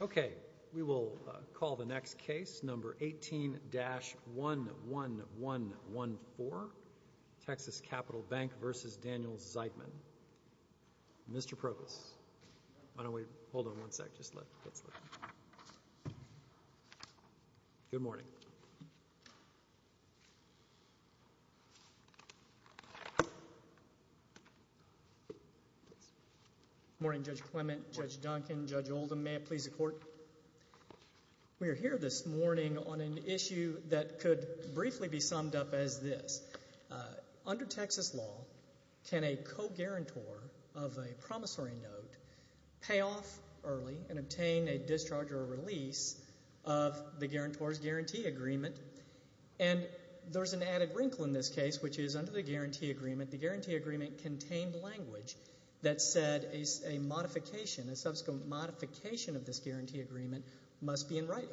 Okay, we will call the next case, number 18-11114, Texas Capital Bank v. Daniel Zeidman. Mr. Provost, why don't we, hold on one sec, just let, let's look. Good morning. Good morning, Judge Clement, Judge Duncan, Judge Oldham. May it please the Court. We are here this morning on an issue that could briefly be summed up as this. Under Texas law, can a co-guarantor of a promissory note pay off early and obtain a discharge or a release of the guarantor's guarantee agreement? And there's an added wrinkle in this case, which is under the guarantee agreement, the guarantee agreement contained language that said a modification, a subsequent modification of this guarantee agreement must be in writing.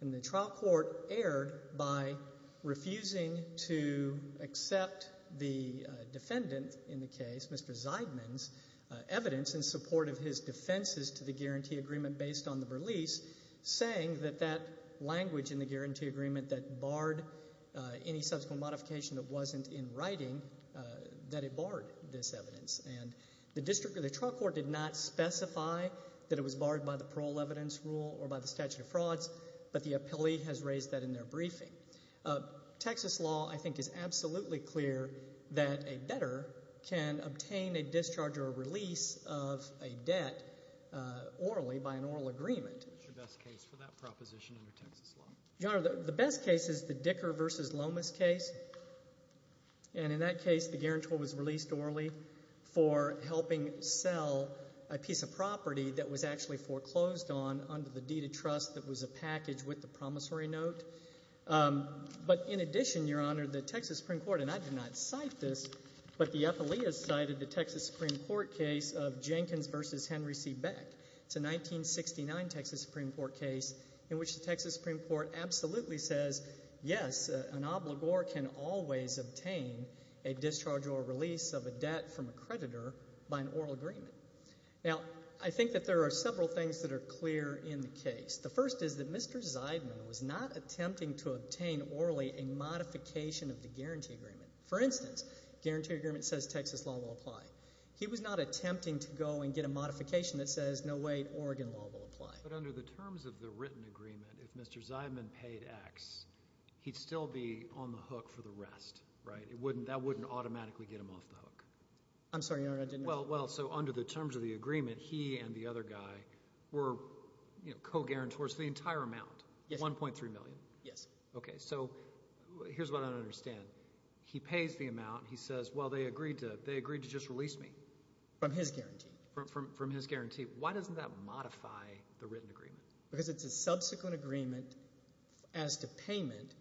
And the trial court erred by refusing to accept the defendant in the case, Mr. Zeidman's, evidence in support of his defenses to the guarantee agreement based on the release, saying that that language in the guarantee agreement that barred any subsequent modification that wasn't in writing, that it barred this evidence. And the district or the trial court did not specify that it was barred by the parole evidence rule or by the statute of frauds, but the appellee has raised that in their briefing. Texas law, I think, is absolutely clear that a debtor can obtain a discharge or a release of a debt orally by an oral agreement. What's the best case for that proposition under Texas law? Your Honor, the best case is the Dicker v. Lomas case. And in that case, the guarantor was released orally for helping sell a piece of property that was actually foreclosed on under the deed of trust that was a package with the promissory note. But in addition, Your Honor, the Texas Supreme Court, and I did not cite this, but the appellee has cited the Texas Supreme Court case of Jenkins v. Henry C. Beck. It's a 1969 Texas Supreme Court case in which the Texas Supreme Court absolutely says, yes, an obligor can always obtain a discharge or a release of a debt from a creditor by an oral agreement. Now, I think that there are several things that are clear in the case. The first is that Mr. Zeidman was not attempting to obtain orally a modification of the guarantee agreement. For instance, guarantee agreement says Texas law will apply. He was not attempting to go and get a modification that says, no, wait, Oregon law will apply. But under the terms of the written agreement, if Mr. Zeidman paid X, he'd still be on the hook for the rest, right? That wouldn't automatically get him off the hook. I'm sorry, Your Honor, I didn't know that. Well, so under the terms of the agreement, he and the other guy were co-guarantors for the entire amount, $1.3 million. Yes. Okay, so here's what I don't understand. He pays the amount. He says, well, they agreed to just release me. From his guarantee. From his guarantee. Why doesn't that modify the written agreement? Because it's a subsequent agreement as to payment,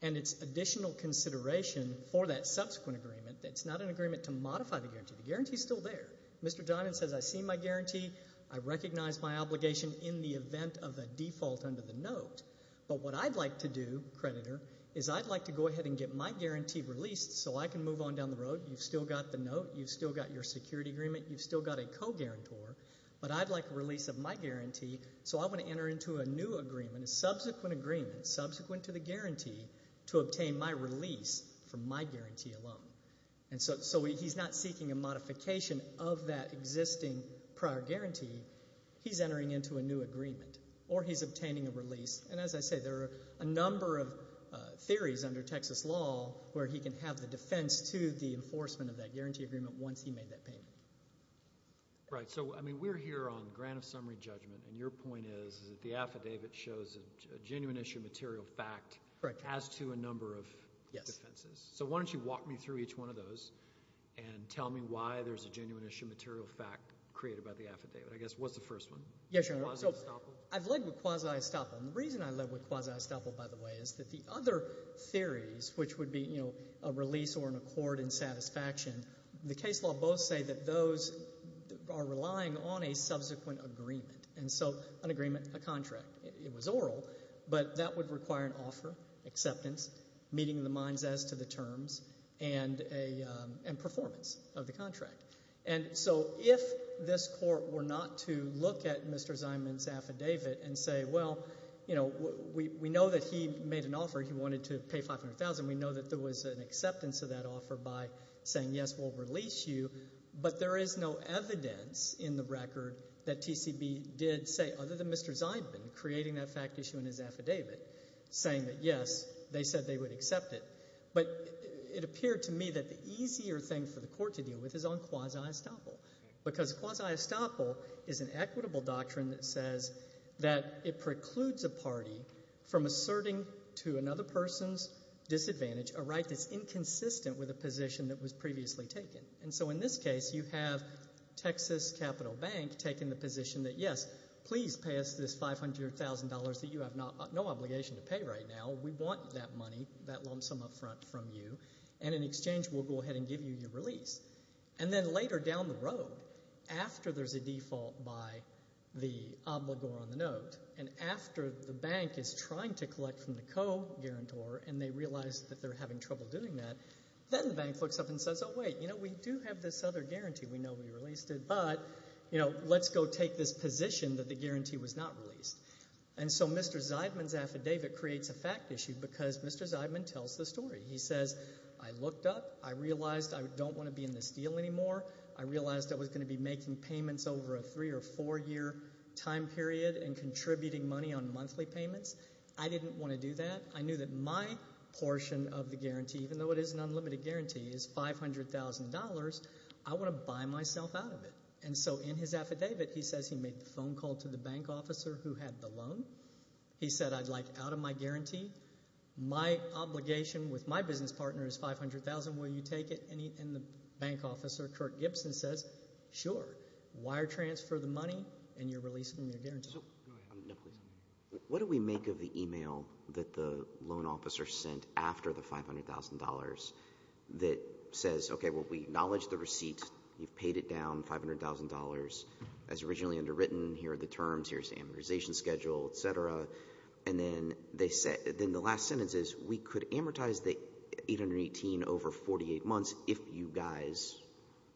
and it's additional consideration for that subsequent agreement. It's not an agreement to modify the guarantee. The guarantee is still there. Mr. Zeidman says, I see my guarantee. I recognize my obligation in the event of a default under the note. But what I'd like to do, creditor, is I'd like to go ahead and get my guarantee released so I can move on down the road. You've still got the note. You've still got your security agreement. You've still got a co-guarantor. But I'd like a release of my guarantee, so I want to enter into a new agreement, a subsequent agreement, subsequent to the guarantee to obtain my release from my guarantee alone. And so he's not seeking a modification of that existing prior guarantee. He's entering into a new agreement, or he's obtaining a release. And as I say, there are a number of theories under Texas law where he can have the defense to the enforcement of that guarantee agreement once he made that payment. Right, so, I mean, we're here on grant of summary judgment, and your point is that the affidavit shows a genuine issue of material fact as to a number of defenses. Yes. So why don't you walk me through each one of those and tell me why there's a genuine issue of material fact created by the affidavit. I guess, what's the first one? Yes, Your Honor. Quasi-estoppel? I've led with quasi-estoppel. And the reason I led with quasi-estoppel, by the way, is that the other theories, which would be a release or an accord in satisfaction, the case law both say that those are relying on a subsequent agreement. And so an agreement, a contract. It was oral, but that would require an offer, acceptance, meeting the minds as to the terms, and performance of the contract. And so if this court were not to look at Mr. Zyman's affidavit and say, well, you know, we know that he made an offer. He wanted to pay $500,000. We know that there was an acceptance of that offer by saying, yes, we'll release you. But there is no evidence in the record that TCB did say, other than Mr. Zyman, creating that fact issue in his affidavit, saying that, yes, they said they would accept it. But it appeared to me that the easier thing for the court to deal with is on quasi-estoppel, because quasi-estoppel is an equitable doctrine that says that it precludes a party from asserting to another person's disadvantage a right that's inconsistent with a position that was previously taken. And so in this case, you have Texas Capital Bank taking the position that, yes, please pay us this $500,000 that you have no obligation to pay right now. We want that money, that lump sum up front from you, and in exchange we'll go ahead and give you your release. And then later down the road, after there's a default by the obligor on the note and after the bank is trying to collect from the co-guarantor and they realize that they're having trouble doing that, then the bank looks up and says, oh, wait, you know, we do have this other guarantee. We know we released it, but, you know, let's go take this position that the guarantee was not released. And so Mr. Zeidman's affidavit creates a fact issue because Mr. Zeidman tells the story. He says, I looked up. I realized I don't want to be in this deal anymore. I realized I was going to be making payments over a three- or four-year time period and contributing money on monthly payments. I didn't want to do that. I knew that my portion of the guarantee, even though it is an unlimited guarantee, is $500,000. I want to buy myself out of it. And so in his affidavit he says he made the phone call to the bank officer who had the loan. He said, I'd like out of my guarantee. My obligation with my business partner is $500,000. Will you take it? And the bank officer, Kirk Gibson, says, sure. Wire transfer the money and you're releasing your guarantee. What do we make of the email that the loan officer sent after the $500,000 that says, okay, well, we acknowledge the receipt. You've paid it down, $500,000, as originally underwritten. Here are the terms. Here's the amortization schedule, et cetera. And then the last sentence is, we could amortize the 818 over 48 months if you guys,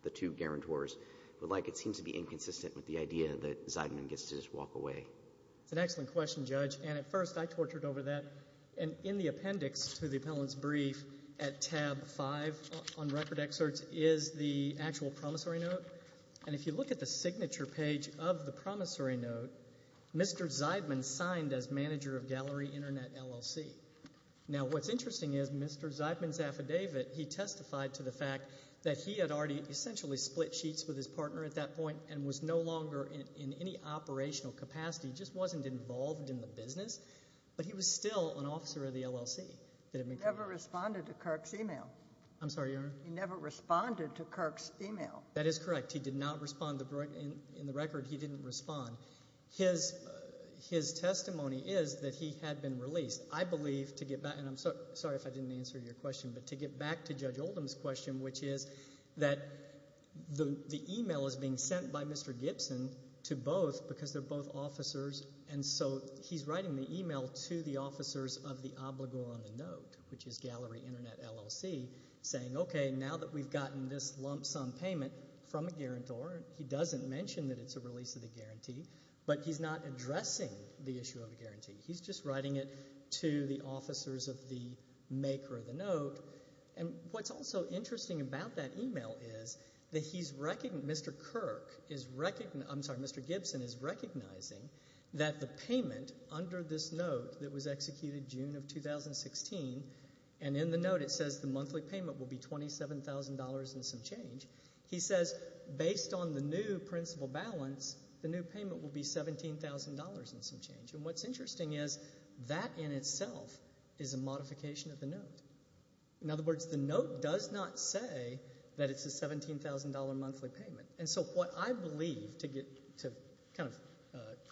the two guarantors, would like it. It seems to be inconsistent with the idea that Zeidman gets to just walk away. That's an excellent question, Judge. And at first I tortured over that. And in the appendix to the appellant's brief at tab five on record excerpts is the actual promissory note. And if you look at the signature page of the promissory note, Mr. Zeidman signed as manager of Gallery Internet LLC. Now, what's interesting is Mr. Zeidman's affidavit, he testified to the fact that he had already essentially split sheets with his partner at that point and was no longer in any operational capacity. He just wasn't involved in the business. But he was still an officer of the LLC. He never responded to Kirk's email. I'm sorry, Your Honor? He never responded to Kirk's email. That is correct. He did not respond. In the record, he didn't respond. His testimony is that he had been released. I believe, to get back, and I'm sorry if I didn't answer your question, but to get back to Judge Oldham's question, which is that the email is being sent by Mr. Gibson to both because they're both officers, and so he's writing the email to the officers of the obligor on the note, which is Gallery Internet LLC, saying, okay, now that we've gotten this lump sum payment from a guarantor, he doesn't mention that it's a release of the guarantee, but he's not addressing the issue of a guarantee. He's just writing it to the officers of the maker of the note. And what's also interesting about that email is that he's, Mr. Kirk is, I'm sorry, Mr. Gibson is recognizing that the payment under this note that was executed June of 2016, and in the note it says the monthly payment will be $27,000 and some change. He says, based on the new principal balance, the new payment will be $17,000 and some change. And what's interesting is that in itself is a modification of the note. In other words, the note does not say that it's a $17,000 monthly payment. And so what I believe, to kind of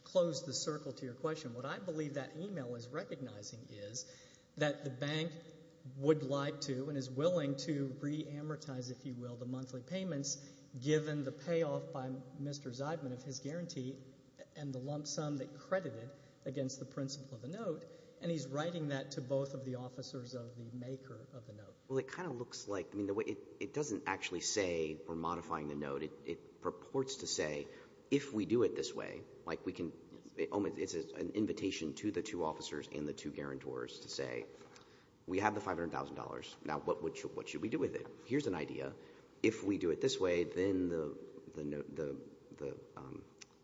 close the circle to your question, what I believe that email is recognizing is that the bank would like to and is willing to reamortize, if you will, the monthly payments given the payoff by Mr. Zeidman of his guarantee and the lump sum that credited against the principal of the note, and he's writing that to both of the officers of the maker of the note. Well, it kind of looks like, I mean, it doesn't actually say we're modifying the note. It purports to say if we do it this way, like we can, it's an invitation to the two officers and the two guarantors to say we have the $500,000. Now, what should we do with it? Here's an idea. If we do it this way, then the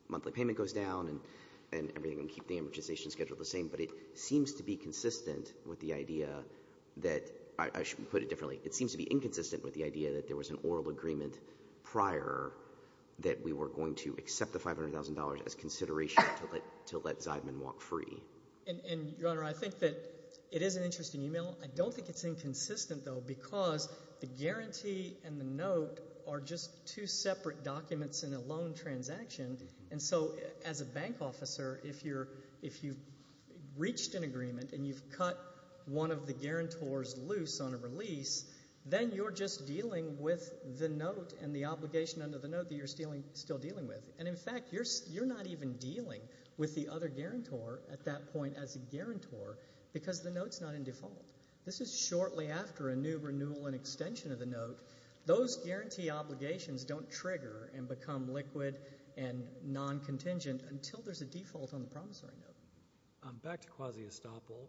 monthly payment goes down and everything will keep the amortization schedule the same. But it seems to be consistent with the idea that – I should put it differently. It seems to be inconsistent with the idea that there was an oral agreement prior that we were going to accept the $500,000 as consideration to let Zeidman walk free. And, Your Honor, I think that it is an interesting email. I don't think it's inconsistent, though, because the guarantee and the note are just two separate documents in a loan transaction. And so as a bank officer, if you've reached an agreement and you've cut one of the guarantors loose on a release, then you're just dealing with the note and the obligation under the note that you're still dealing with. And, in fact, you're not even dealing with the other guarantor at that point as a guarantor because the note's not in default. This is shortly after a new renewal and extension of the note. Those guarantee obligations don't trigger and become liquid and non-contingent until there's a default on the promissory note. Back to quasi-estoppel.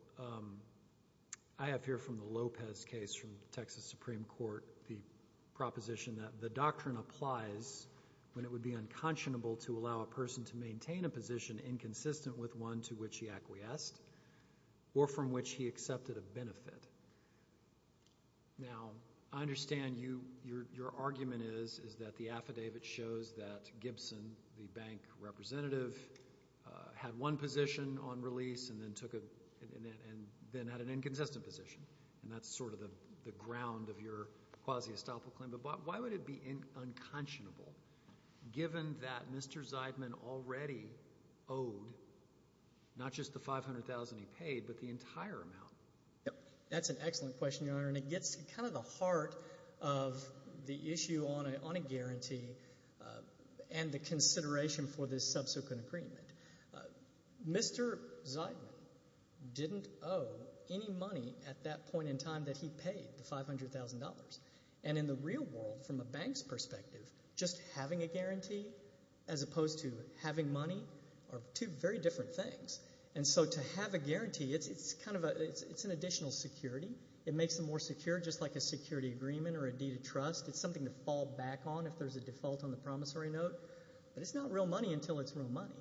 I have here from the Lopez case from Texas Supreme Court the proposition that the doctrine applies when it would be unconscionable to allow a person to maintain a position inconsistent with one to which he acquiesced or from which he accepted a benefit. Now, I understand your argument is that the affidavit shows that Gibson, the bank representative, had one position on release and then had an inconsistent position, and that's sort of the ground of your quasi-estoppel claim. But why would it be unconscionable given that Mr. Zeidman already owed not just the $500,000 he paid but the entire amount? That's an excellent question, Your Honor, and it gets to kind of the heart of the issue on a guarantee and the consideration for this subsequent agreement. Mr. Zeidman didn't owe any money at that point in time that he paid, the $500,000. And in the real world, from a bank's perspective, just having a guarantee as opposed to having money are two very different things. And so to have a guarantee, it's an additional security. It makes it more secure just like a security agreement or a deed of trust. It's something to fall back on if there's a default on the promissory note. But it's not real money until it's real money,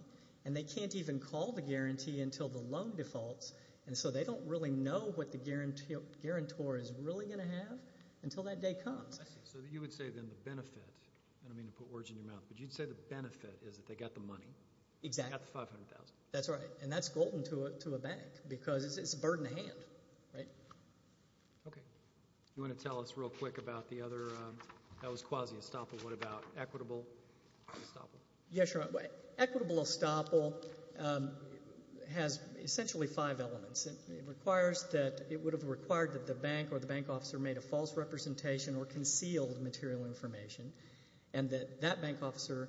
and they can't even call the guarantee until the loan defaults, and so they don't really know what the guarantor is really going to have until that day comes. I see. So you would say then the benefit, and I don't mean to put words in your mouth, but you'd say the benefit is that they got the money. Exactly. They got the $500,000. That's right, and that's golden to a bank because it's a bird in a hand, right? Okay. You want to tell us real quick about the other? That was quasi-estoppel. What about equitable estoppel? Yeah, sure. Equitable estoppel has essentially five elements. It requires that it would have required that the bank or the bank officer made a false representation or concealed material information and that that bank officer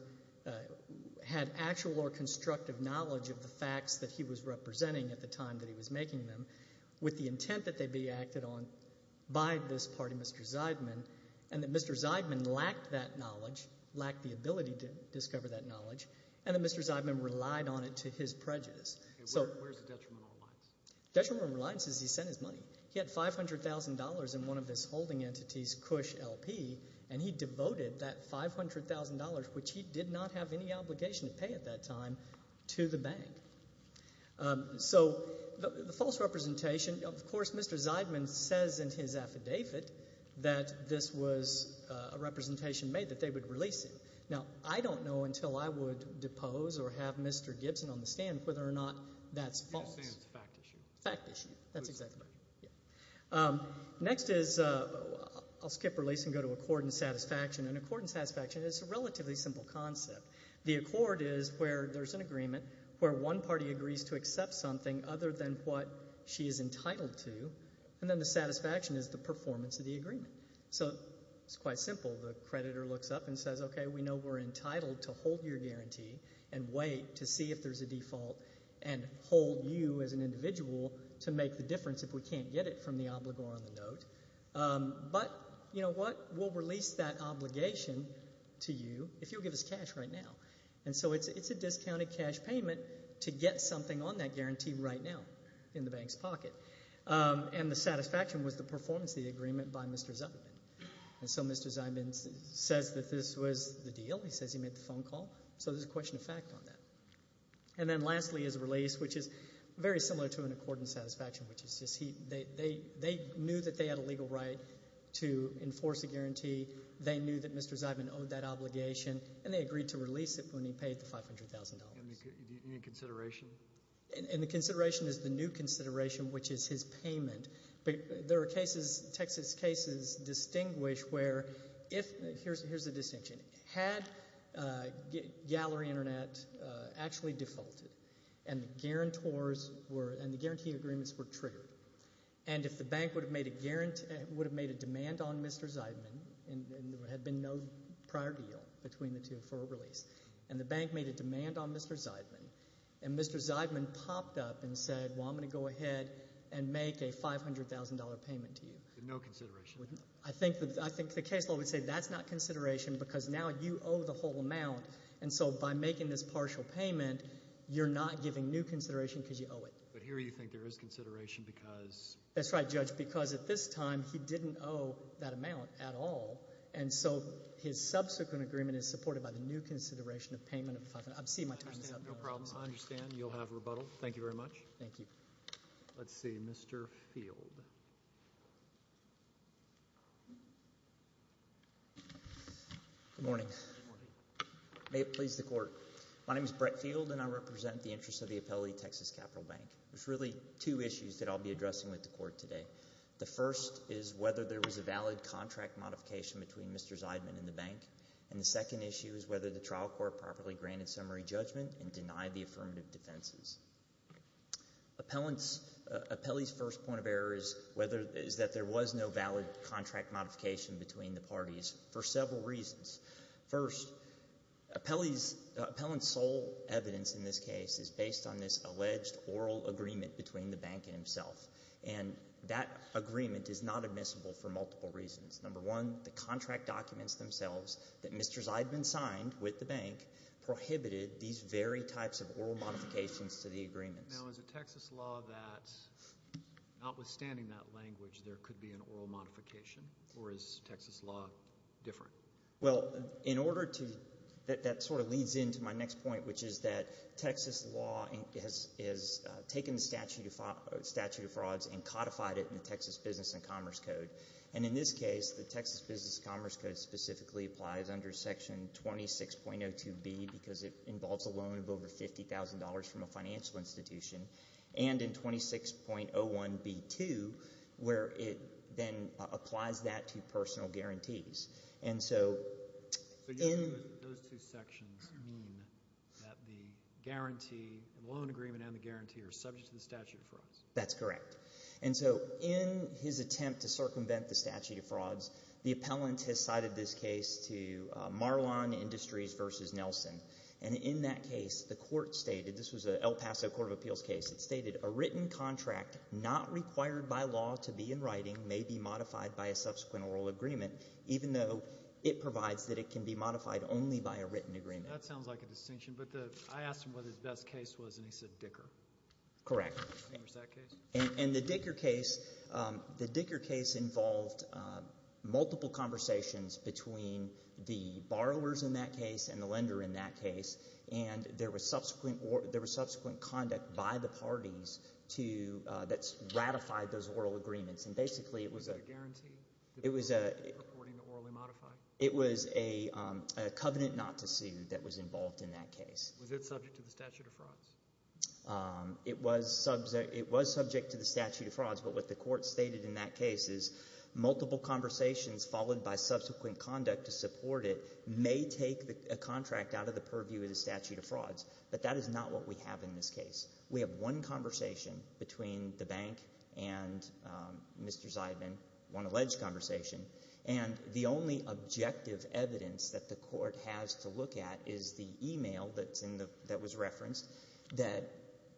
had actual or constructive knowledge of the facts that he was representing at the time that he was making them with the intent that they be acted on by this party, Mr. Zeidman, and that Mr. Zeidman lacked that knowledge, lacked the ability to discover that knowledge, and that Mr. Zeidman relied on it to his prejudice. Where's the detriment and reliance? Detriment and reliance is he sent his money. He had $500,000 in one of his holding entities, Kush LP, and he devoted that $500,000, which he did not have any obligation to pay at that time, to the bank. So the false representation, of course, Mr. Zeidman says in his affidavit that this was a representation made that they would release him. Now, I don't know until I would depose or have Mr. Gibson on the stand whether or not that's false. You're just saying it's a fact issue. Fact issue. That's exactly right. Next is I'll skip release and go to accord and satisfaction, and accord and satisfaction is a relatively simple concept. The accord is where there's an agreement where one party agrees to accept something other than what she is entitled to, and then the satisfaction is the performance of the agreement. So it's quite simple. The creditor looks up and says, okay, we know we're entitled to hold your guarantee and wait to see if there's a default and hold you as an individual to make the difference if we can't get it from the obligor on the note. But, you know what, we'll release that obligation to you if you'll give us cash right now. And so it's a discounted cash payment to get something on that guarantee right now in the bank's pocket. And the satisfaction was the performance of the agreement by Mr. Zyman. And so Mr. Zyman says that this was the deal. He says he made the phone call. So there's a question of fact on that. And then lastly is release, which is very similar to an accord and satisfaction, which is they knew that they had a legal right to enforce a guarantee. They knew that Mr. Zyman owed that obligation, and they agreed to release it when he paid the $500,000. Any consideration? And the consideration is the new consideration, which is his payment. There are cases, Texas cases, distinguish where if, here's the distinction, had Gallery Internet actually defaulted and the guarantee agreements were triggered and if the bank would have made a demand on Mr. Zyman and there had been no prior deal between the two for a release, and the bank made a demand on Mr. Zyman, and Mr. Zyman popped up and said, well, I'm going to go ahead and make a $500,000 payment to you. No consideration? I think the case law would say that's not consideration because now you owe the whole amount. And so by making this partial payment, you're not giving new consideration because you owe it. But here you think there is consideration because? That's right, Judge, because at this time he didn't owe that amount at all, and so his subsequent agreement is supported by the new consideration of payment of $500,000. I'm seeing my time is up. No problem. I understand. You'll have rebuttal. Thank you very much. Thank you. Let's see. Mr. Field. Good morning. May it please the Court. My name is Brett Field, and I represent the interests of the Appellate Texas Capital Bank. There's really two issues that I'll be addressing with the Court today. The first is whether there was a valid contract modification between Mr. Zyman and the bank, and the second issue is whether the trial court properly granted summary judgment and denied the affirmative defenses. Appellant's first point of error is that there was no valid contract modification between the parties for several reasons. First, Appellant's sole evidence in this case is based on this alleged oral agreement between the bank and himself, and that agreement is not admissible for multiple reasons. Number one, the contract documents themselves that Mr. Zyman signed with the bank prohibited these very types of oral modifications to the agreements. Now, is it Texas law that, notwithstanding that language, there could be an oral modification, or is Texas law different? Well, in order to – that sort of leads into my next point, which is that Texas law has taken the statute of frauds and codified it in the Texas Business and Commerce Code. And in this case, the Texas Business and Commerce Code specifically applies under Section 26.02B because it involves a loan of over $50,000 from a financial institution, and in 26.01B2 where it then applies that to personal guarantees. And so in – So those two sections mean that the guarantee, the loan agreement and the guarantee, are subject to the statute of frauds. That's correct. And so in his attempt to circumvent the statute of frauds, the appellant has cited this case to Marlon Industries v. Nelson. And in that case, the court stated – this was an El Paso Court of Appeals case – it stated a written contract not required by law to be in writing may be modified by a subsequent oral agreement even though it provides that it can be modified only by a written agreement. That sounds like a distinction, but I asked him what his best case was, and he said Dicker. Correct. And there's that case? And the Dicker case – the Dicker case involved multiple conversations between the borrowers in that case and the lender in that case. And there was subsequent – there was subsequent conduct by the parties to – that's ratified those oral agreements. And basically it was a – Was it a guarantee? It was a – According to orally modified? It was a covenant not to sue that was involved in that case. Was it subject to the statute of frauds? It was subject to the statute of frauds, but what the court stated in that case is multiple conversations followed by subsequent conduct to support it may take a contract out of the purview of the statute of frauds, but that is not what we have in this case. We have one conversation between the bank and Mr. Zeidman, one alleged conversation, and the only objective evidence that the court has to look at is the e-mail that's in the – that was referenced that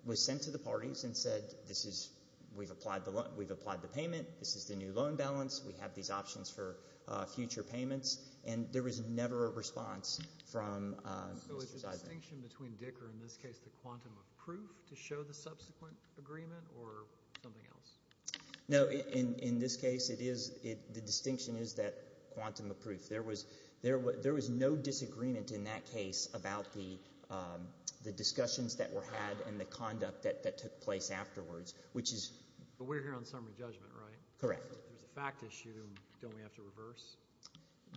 was sent to the parties and said this is – we've applied the loan – we've applied the payment. This is the new loan balance. We have these options for future payments. And there was never a response from Mr. Zeidman. Is there a distinction between Dicker, in this case the quantum of proof, to show the subsequent agreement or something else? No. In this case, it is – the distinction is that quantum of proof. There was no disagreement in that case about the discussions that were had and the conduct that took place afterwards, which is – But we're here on summary judgment, right? Correct. There's a fact issue. Don't we have to reverse?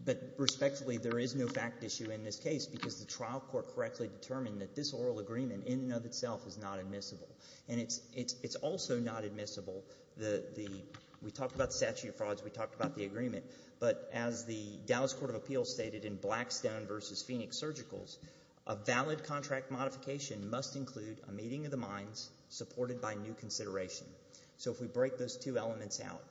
But respectfully, there is no fact issue in this case because the trial court correctly determined that this oral agreement in and of itself is not admissible. And it's also not admissible the – we talked about the statute of frauds. We talked about the agreement. But as the Dallas Court of Appeals stated in Blackstone v. Phoenix Surgicals, a valid contract modification must include a meeting of the minds supported by new consideration. So if we break those two elements out,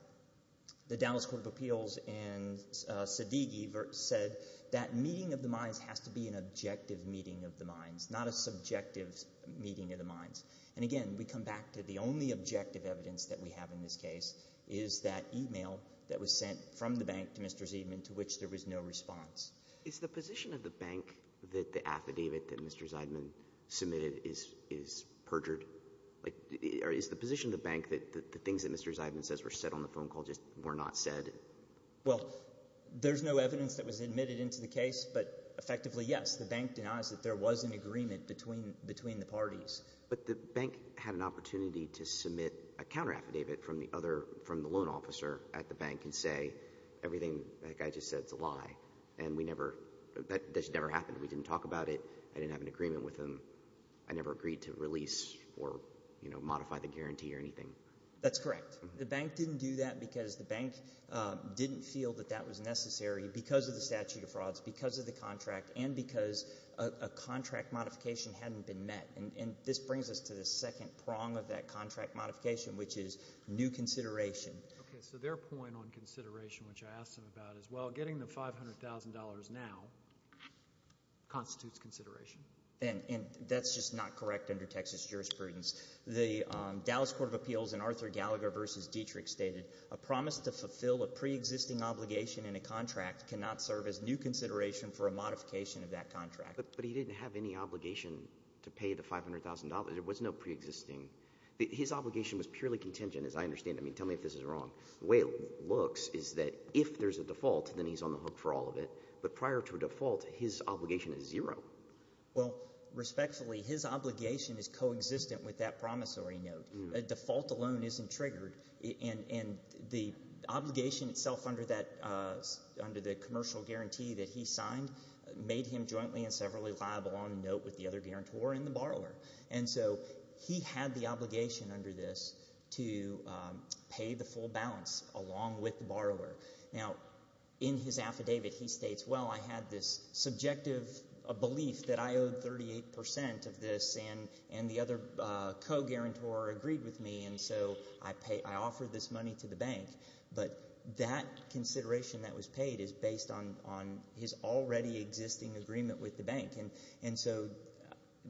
the Dallas Court of Appeals and Siddiqi said that meeting of the minds has to be an objective meeting of the minds, not a subjective meeting of the minds. And again, we come back to the only objective evidence that we have in this case is that email that was sent from the bank to Mr. Zeidman to which there was no response. Is the position of the bank that the affidavit that Mr. Zeidman submitted is perjured? Is the position of the bank that the things that Mr. Zeidman says were said on the phone call just were not said? Well, there's no evidence that was admitted into the case, but effectively, yes. The bank denies that there was an agreement between the parties. But the bank had an opportunity to submit a counteraffidavit from the other – from the loan officer at the bank and say everything that guy just said is a lie. And we never – that just never happened. We didn't talk about it. I didn't have an agreement with him. I never agreed to release or modify the guarantee or anything. That's correct. The bank didn't do that because the bank didn't feel that that was necessary because of the statute of frauds, because of the contract, and because a contract modification hadn't been met. And this brings us to the second prong of that contract modification, which is new consideration. Okay, so their point on consideration, which I asked them about as well, getting the $500,000 now constitutes consideration. And that's just not correct under Texas jurisprudence. The Dallas Court of Appeals in Arthur Gallagher v. Dietrich stated, a promise to fulfill a preexisting obligation in a contract cannot serve as new consideration for a modification of that contract. But he didn't have any obligation to pay the $500,000. There was no preexisting – his obligation was purely contingent, as I understand it. I mean, tell me if this is wrong. The way it looks is that if there's a default, then he's on the hook for all of it. But prior to a default, his obligation is zero. Well, respectfully, his obligation is coexistent with that promissory note. A default alone isn't triggered. And the obligation itself under that – under the commercial guarantee that he signed made him jointly and severally liable on the note with the other guarantor and the borrower. And so he had the obligation under this to pay the full balance along with the borrower. Now, in his affidavit, he states, well, I had this subjective belief that I owed 38% of this, and the other co-guarantor agreed with me, and so I offered this money to the bank. But that consideration that was paid is based on his already existing agreement with the bank. And so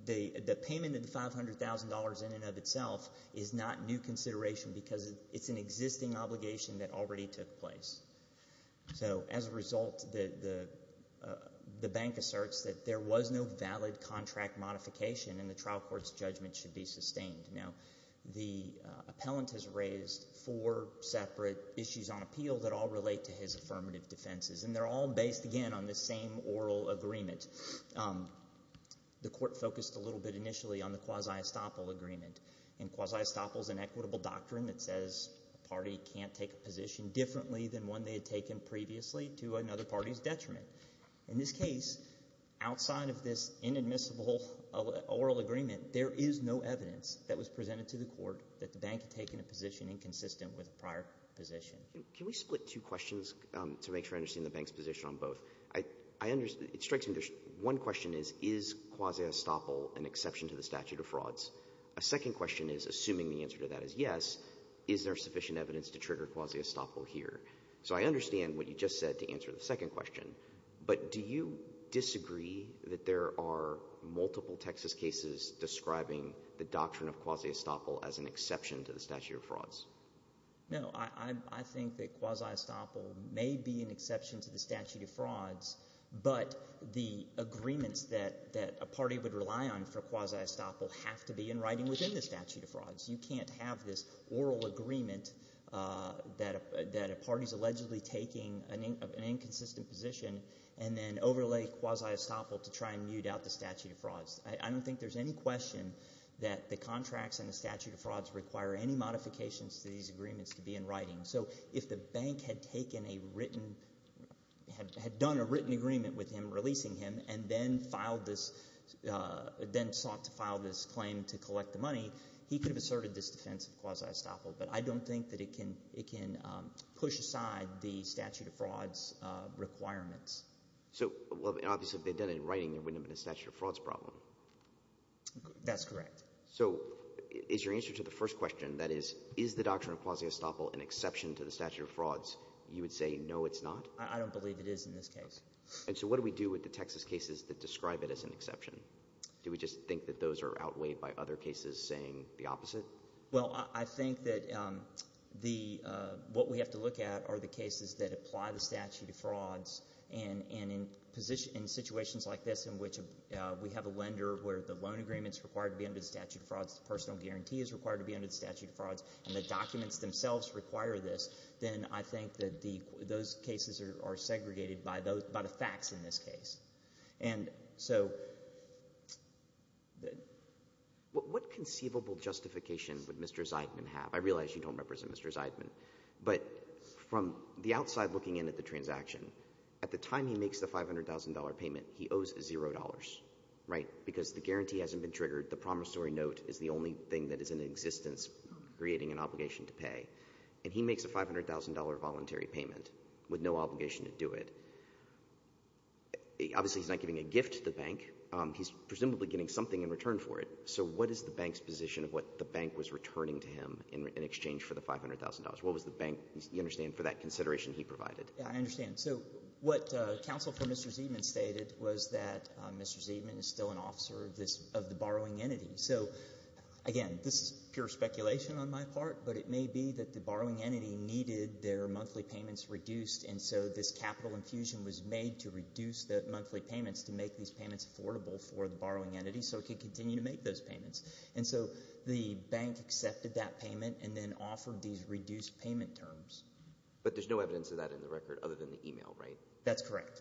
the payment of the $500,000 in and of itself is not new consideration because it's an existing obligation that already took place. So as a result, the bank asserts that there was no valid contract modification, and the trial court's judgment should be sustained. Now, the appellant has raised four separate issues on appeal that all relate to his affirmative defenses, and they're all based, again, on the same oral agreement. The court focused a little bit initially on the quasi-estoppel agreement. And quasi-estoppel is an equitable doctrine that says a party can't take a position differently than one they had taken previously to another party's detriment. In this case, outside of this inadmissible oral agreement, there is no evidence that was presented to the court that the bank had taken a position inconsistent with a prior position. Can we split two questions to make sure I understand the bank's position on both? It strikes me that one question is, is quasi-estoppel an exception to the statute of frauds? A second question is, assuming the answer to that is yes, is there sufficient evidence to trigger quasi-estoppel here? So I understand what you just said to answer the second question, but do you disagree that there are multiple Texas cases describing the doctrine of quasi-estoppel as an exception to the statute of frauds? No, I think that quasi-estoppel may be an exception to the statute of frauds, but the agreements that a party would rely on for quasi-estoppel have to be in writing within the statute of frauds. You can't have this oral agreement that a party is allegedly taking an inconsistent position and then overlay quasi-estoppel to try and mute out the statute of frauds. I don't think there's any question that the contracts and the statute of frauds require any modifications to these agreements to be in writing. So if the bank had taken a written – had done a written agreement with him, releasing him, and then filed this – then sought to file this claim to collect the money, he could have asserted this defense of quasi-estoppel. But I don't think that it can push aside the statute of frauds requirements. So – well, obviously, if they had done it in writing, there wouldn't have been a statute of frauds problem. That's correct. So is your answer to the first question, that is, is the doctrine of quasi-estoppel an exception to the statute of frauds, you would say no, it's not? I don't believe it is in this case. And so what do we do with the Texas cases that describe it as an exception? Do we just think that those are outweighed by other cases saying the opposite? Well, I think that the – what we have to look at are the cases that apply the statute of frauds. And in situations like this in which we have a lender where the loan agreement is required to be under the statute of frauds, the personal guarantee is required to be under the statute of frauds, and the documents themselves require this, then I think that the – those cases are segregated by the facts in this case. And so – What conceivable justification would Mr. Zeidman have? I realize you don't represent Mr. Zeidman. But from the outside looking in at the transaction, at the time he makes the $500,000 payment, he owes $0, right? Because the guarantee hasn't been triggered. The promissory note is the only thing that is in existence creating an obligation to pay. And he makes a $500,000 voluntary payment with no obligation to do it. Obviously, he's not giving a gift to the bank. He's presumably getting something in return for it. So what is the bank's position of what the bank was returning to him in exchange for the $500,000? What was the bank, you understand, for that consideration he provided? Yeah, I understand. So what counsel for Mr. Zeidman stated was that Mr. Zeidman is still an officer of the borrowing entity. So, again, this is pure speculation on my part, but it may be that the borrowing entity needed their monthly payments reduced, and so this capital infusion was made to reduce the monthly payments to make these payments affordable for the borrowing entity so it could continue to make those payments. And so the bank accepted that payment and then offered these reduced payment terms. But there's no evidence of that in the record other than the email, right? That's correct.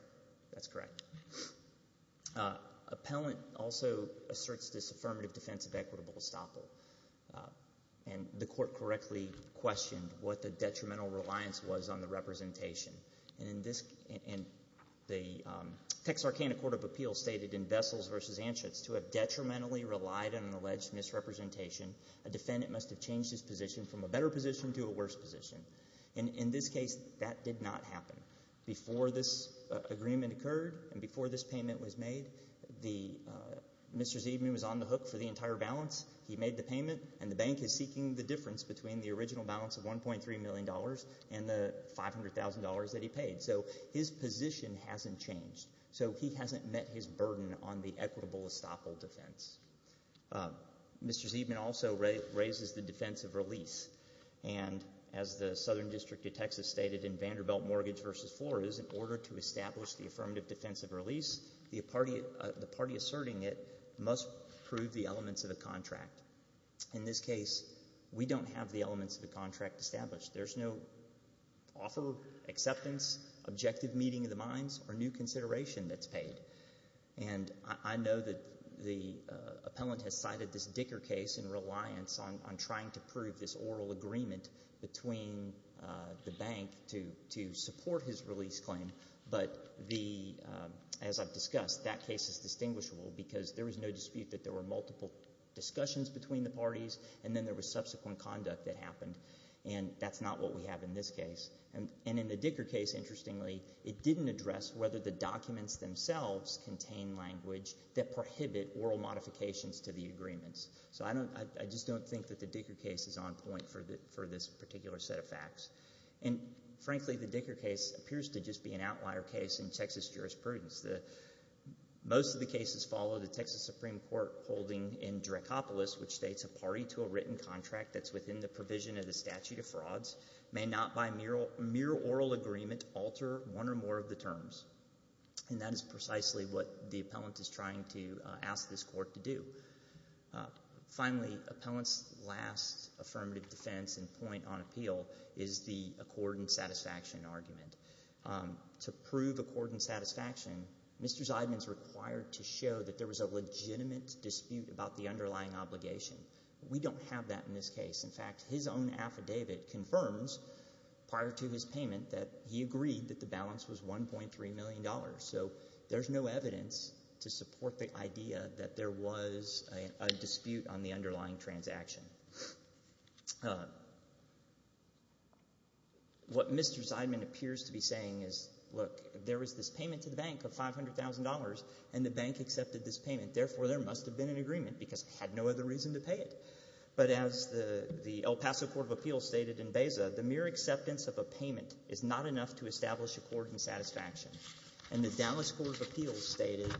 That's correct. Appellant also asserts this affirmative defense of equitable estoppel. And the court correctly questioned what the detrimental reliance was on the representation. And the Texarkana Court of Appeals stated in Vessels v. Anschutz, to have detrimentally relied on an alleged misrepresentation, a defendant must have changed his position from a better position to a worse position. And in this case, that did not happen. Before this agreement occurred and before this payment was made, Mr. Zeidman was on the hook for the entire balance. He made the payment, and the bank is seeking the difference between the original balance of $1.3 million and the $500,000 that he paid. So his position hasn't changed. So he hasn't met his burden on the equitable estoppel defense. Mr. Zeidman also raises the defense of release. And as the Southern District of Texas stated in Vanderbilt Mortgage v. Flores, in order to establish the affirmative defense of release, the party asserting it must prove the elements of the contract. In this case, we don't have the elements of the contract established. There's no offer, acceptance, objective meeting of the minds, or new consideration that's paid. And I know that the appellant has cited this Dicker case in reliance on trying to prove this oral agreement between the bank to support his release claim. But as I've discussed, that case is distinguishable because there was no dispute that there were multiple discussions between the parties, and then there was subsequent conduct that happened. And that's not what we have in this case. And in the Dicker case, interestingly, it didn't address whether the documents themselves contain language that prohibit oral modifications to the agreements. So I just don't think that the Dicker case is on point for this particular set of facts. And frankly, the Dicker case appears to just be an outlier case in Texas jurisprudence. Most of the cases follow the Texas Supreme Court holding in Dracopolis, which states a party to a written contract that's within the provision of the statute of frauds may not by mere oral agreement alter one or more of the terms. And that is precisely what the appellant is trying to ask this court to do. Finally, appellant's last affirmative defense and point on appeal is the accord and satisfaction argument. To prove accord and satisfaction, Mr. Zeidman is required to show that there was a legitimate dispute about the underlying obligation. We don't have that in this case. In fact, his own affidavit confirms prior to his payment that he agreed that the balance was $1.3 million. So there's no evidence to support the idea that there was a dispute on the underlying transaction. What Mr. Zeidman appears to be saying is, look, there was this payment to the bank of $500,000, and the bank accepted this payment. Therefore, there must have been an agreement because it had no other reason to pay it. But as the El Paso Court of Appeals stated in Beza, the mere acceptance of a payment is not enough to establish accord and satisfaction. And the Dallas Court of Appeals stated,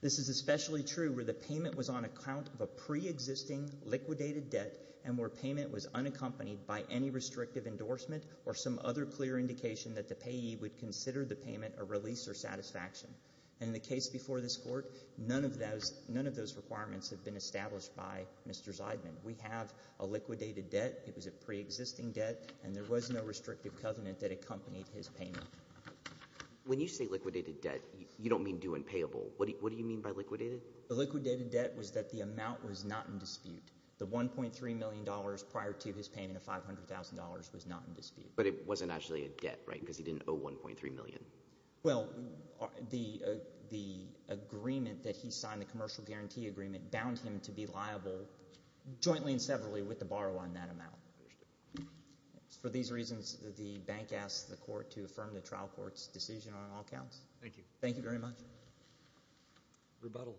this is especially true where the payment was on account of a preexisting liquidated debt and where payment was unaccompanied by any restrictive endorsement or some other clear indication that the payee would consider the payment a release or satisfaction. And in the case before this court, none of those requirements have been established by Mr. Zeidman. We have a liquidated debt. It was a preexisting debt, and there was no restrictive covenant that accompanied his payment. When you say liquidated debt, you don't mean due and payable. What do you mean by liquidated? The liquidated debt was that the amount was not in dispute. The $1.3 million prior to his payment of $500,000 was not in dispute. But it wasn't actually a debt, right, because he didn't owe $1.3 million. Well, the agreement that he signed, the commercial guarantee agreement, bound him to be liable jointly and severally with the borrower in that amount. For these reasons, the bank asks the court to affirm the trial court's decision on all counts. Thank you. Thank you very much. Rebuttal.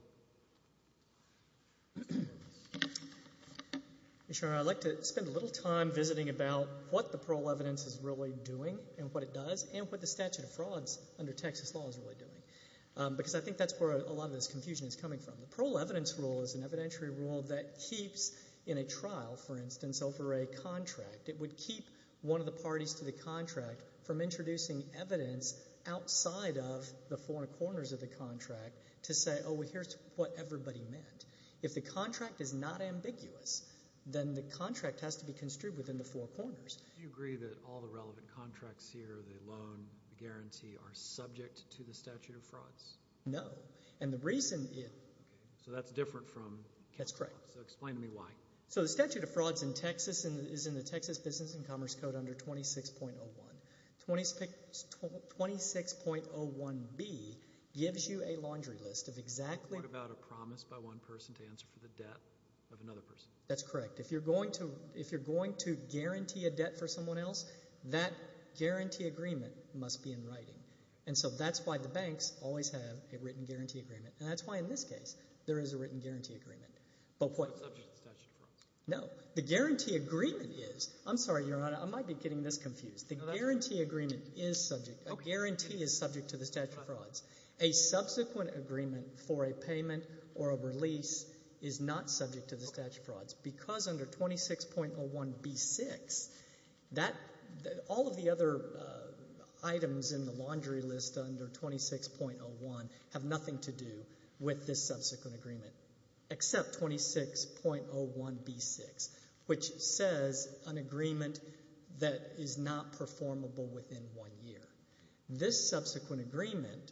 Your Honor, I'd like to spend a little time visiting about what the parole evidence is really doing and what it does and what the statute of frauds under Texas law is really doing because I think that's where a lot of this confusion is coming from. The parole evidence rule is an evidentiary rule that keeps in a trial, for instance, over a contract, it would keep one of the parties to the contract from introducing evidence outside of the four corners of the contract to say, oh, well, here's what everybody meant. If the contract is not ambiguous, then the contract has to be construed within the four corners. Do you agree that all the relevant contracts here, the loan, the guarantee, are subject to the statute of frauds? No. And the reason is. Okay. So that's different from. That's correct. So explain to me why. So the statute of frauds in Texas is in the Texas Business and Commerce Code under 26.01. 26.01B gives you a laundry list of exactly. What about a promise by one person to answer for the debt of another person? That's correct. And so that's why the banks always have a written guarantee agreement. And that's why in this case there is a written guarantee agreement. But what. It's not subject to the statute of frauds. No. The guarantee agreement is. I'm sorry, Your Honor. I might be getting this confused. The guarantee agreement is subject. A guarantee is subject to the statute of frauds. A subsequent agreement for a payment or a release is not subject to the statute of frauds. Because under 26.01B6, that. All of the other items in the laundry list under 26.01 have nothing to do with this subsequent agreement. Except 26.01B6, which says an agreement that is not performable within one year. This subsequent agreement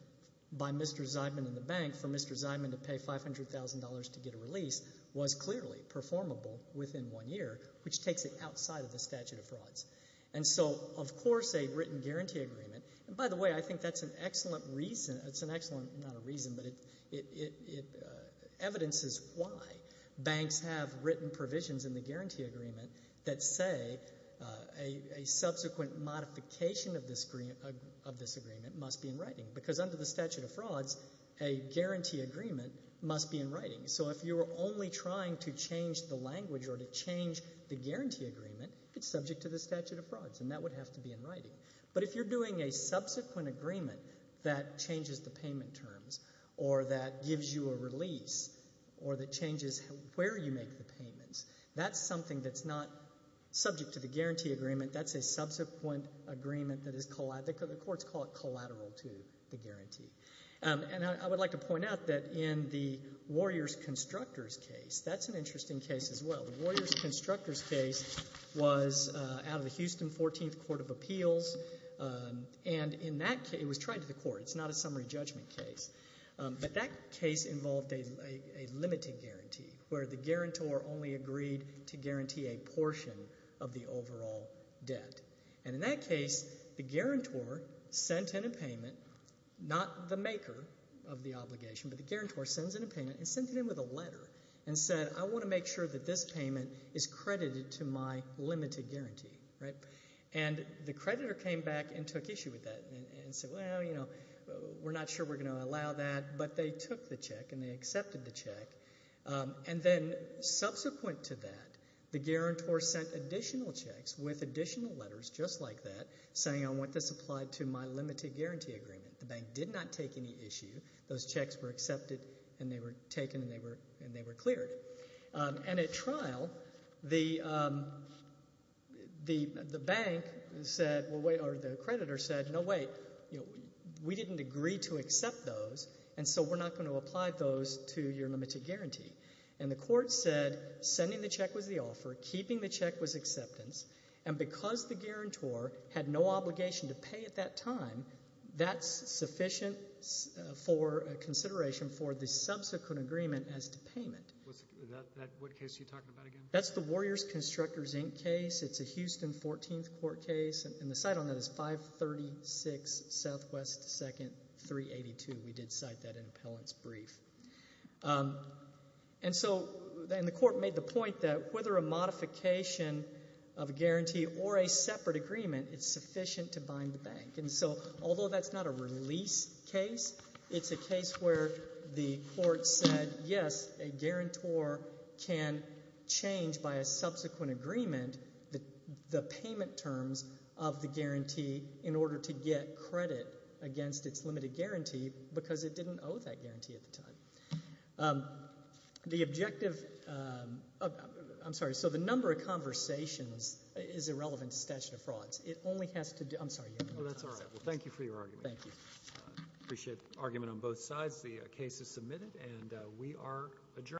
by Mr. Zyman and the bank for Mr. Zyman to pay $500,000 to get a release was clearly performable within one year, which takes it outside of the statute of frauds. And so, of course, a written guarantee agreement. And, by the way, I think that's an excellent reason. It's an excellent. Not a reason, but it evidences why banks have written provisions in the guarantee agreement that say a subsequent modification of this agreement must be in writing. Because under the statute of frauds, a guarantee agreement must be in writing. So if you're only trying to change the language or to change the guarantee agreement, it's subject to the statute of frauds, and that would have to be in writing. But if you're doing a subsequent agreement that changes the payment terms or that gives you a release or that changes where you make the payments, that's something that's not subject to the guarantee agreement. That's a subsequent agreement that is collateral. The courts call it collateral to the guarantee. And I would like to point out that in the Warriors Constructors case, that's an interesting case as well. The Warriors Constructors case was out of the Houston 14th Court of Appeals. And in that case, it was tried to the court. It's not a summary judgment case. But that case involved a limited guarantee where the guarantor only agreed to guarantee a portion of the overall debt. And in that case, the guarantor sent in a payment, not the maker of the obligation, but the guarantor sends in a payment and sends it in with a letter and said, I want to make sure that this payment is credited to my limited guarantee. And the creditor came back and took issue with that and said, well, you know, we're not sure we're going to allow that. But they took the check and they accepted the check. And then subsequent to that, the guarantor sent additional checks with additional letters just like that, saying I want this applied to my limited guarantee agreement. The bank did not take any issue. Those checks were accepted and they were taken and they were cleared. And at trial, the bank said or the creditor said, no, wait, we didn't agree to accept those, and so we're not going to apply those to your limited guarantee. And the court said sending the check was the offer, keeping the check was acceptance, and because the guarantor had no obligation to pay at that time, that's sufficient for consideration for the subsequent agreement as to payment. What case are you talking about again? That's the Warriors Constructors, Inc. case. It's a Houston 14th Court case, and the site on that is 536 Southwest 2nd, 382. We did cite that in appellant's brief. And so the court made the point that whether a modification of a guarantee or a separate agreement, it's sufficient to bind the bank. And so although that's not a release case, it's a case where the court said, yes, a guarantor can change by a subsequent agreement the payment terms of the guarantee in order to get credit against its limited guarantee because it didn't owe that guarantee at the time. The objective of the number of conversations is irrelevant to statute of frauds. Well, that's all right. Well, thank you for your argument. Thank you. Appreciate the argument on both sides. The case is submitted, and we are adjourned.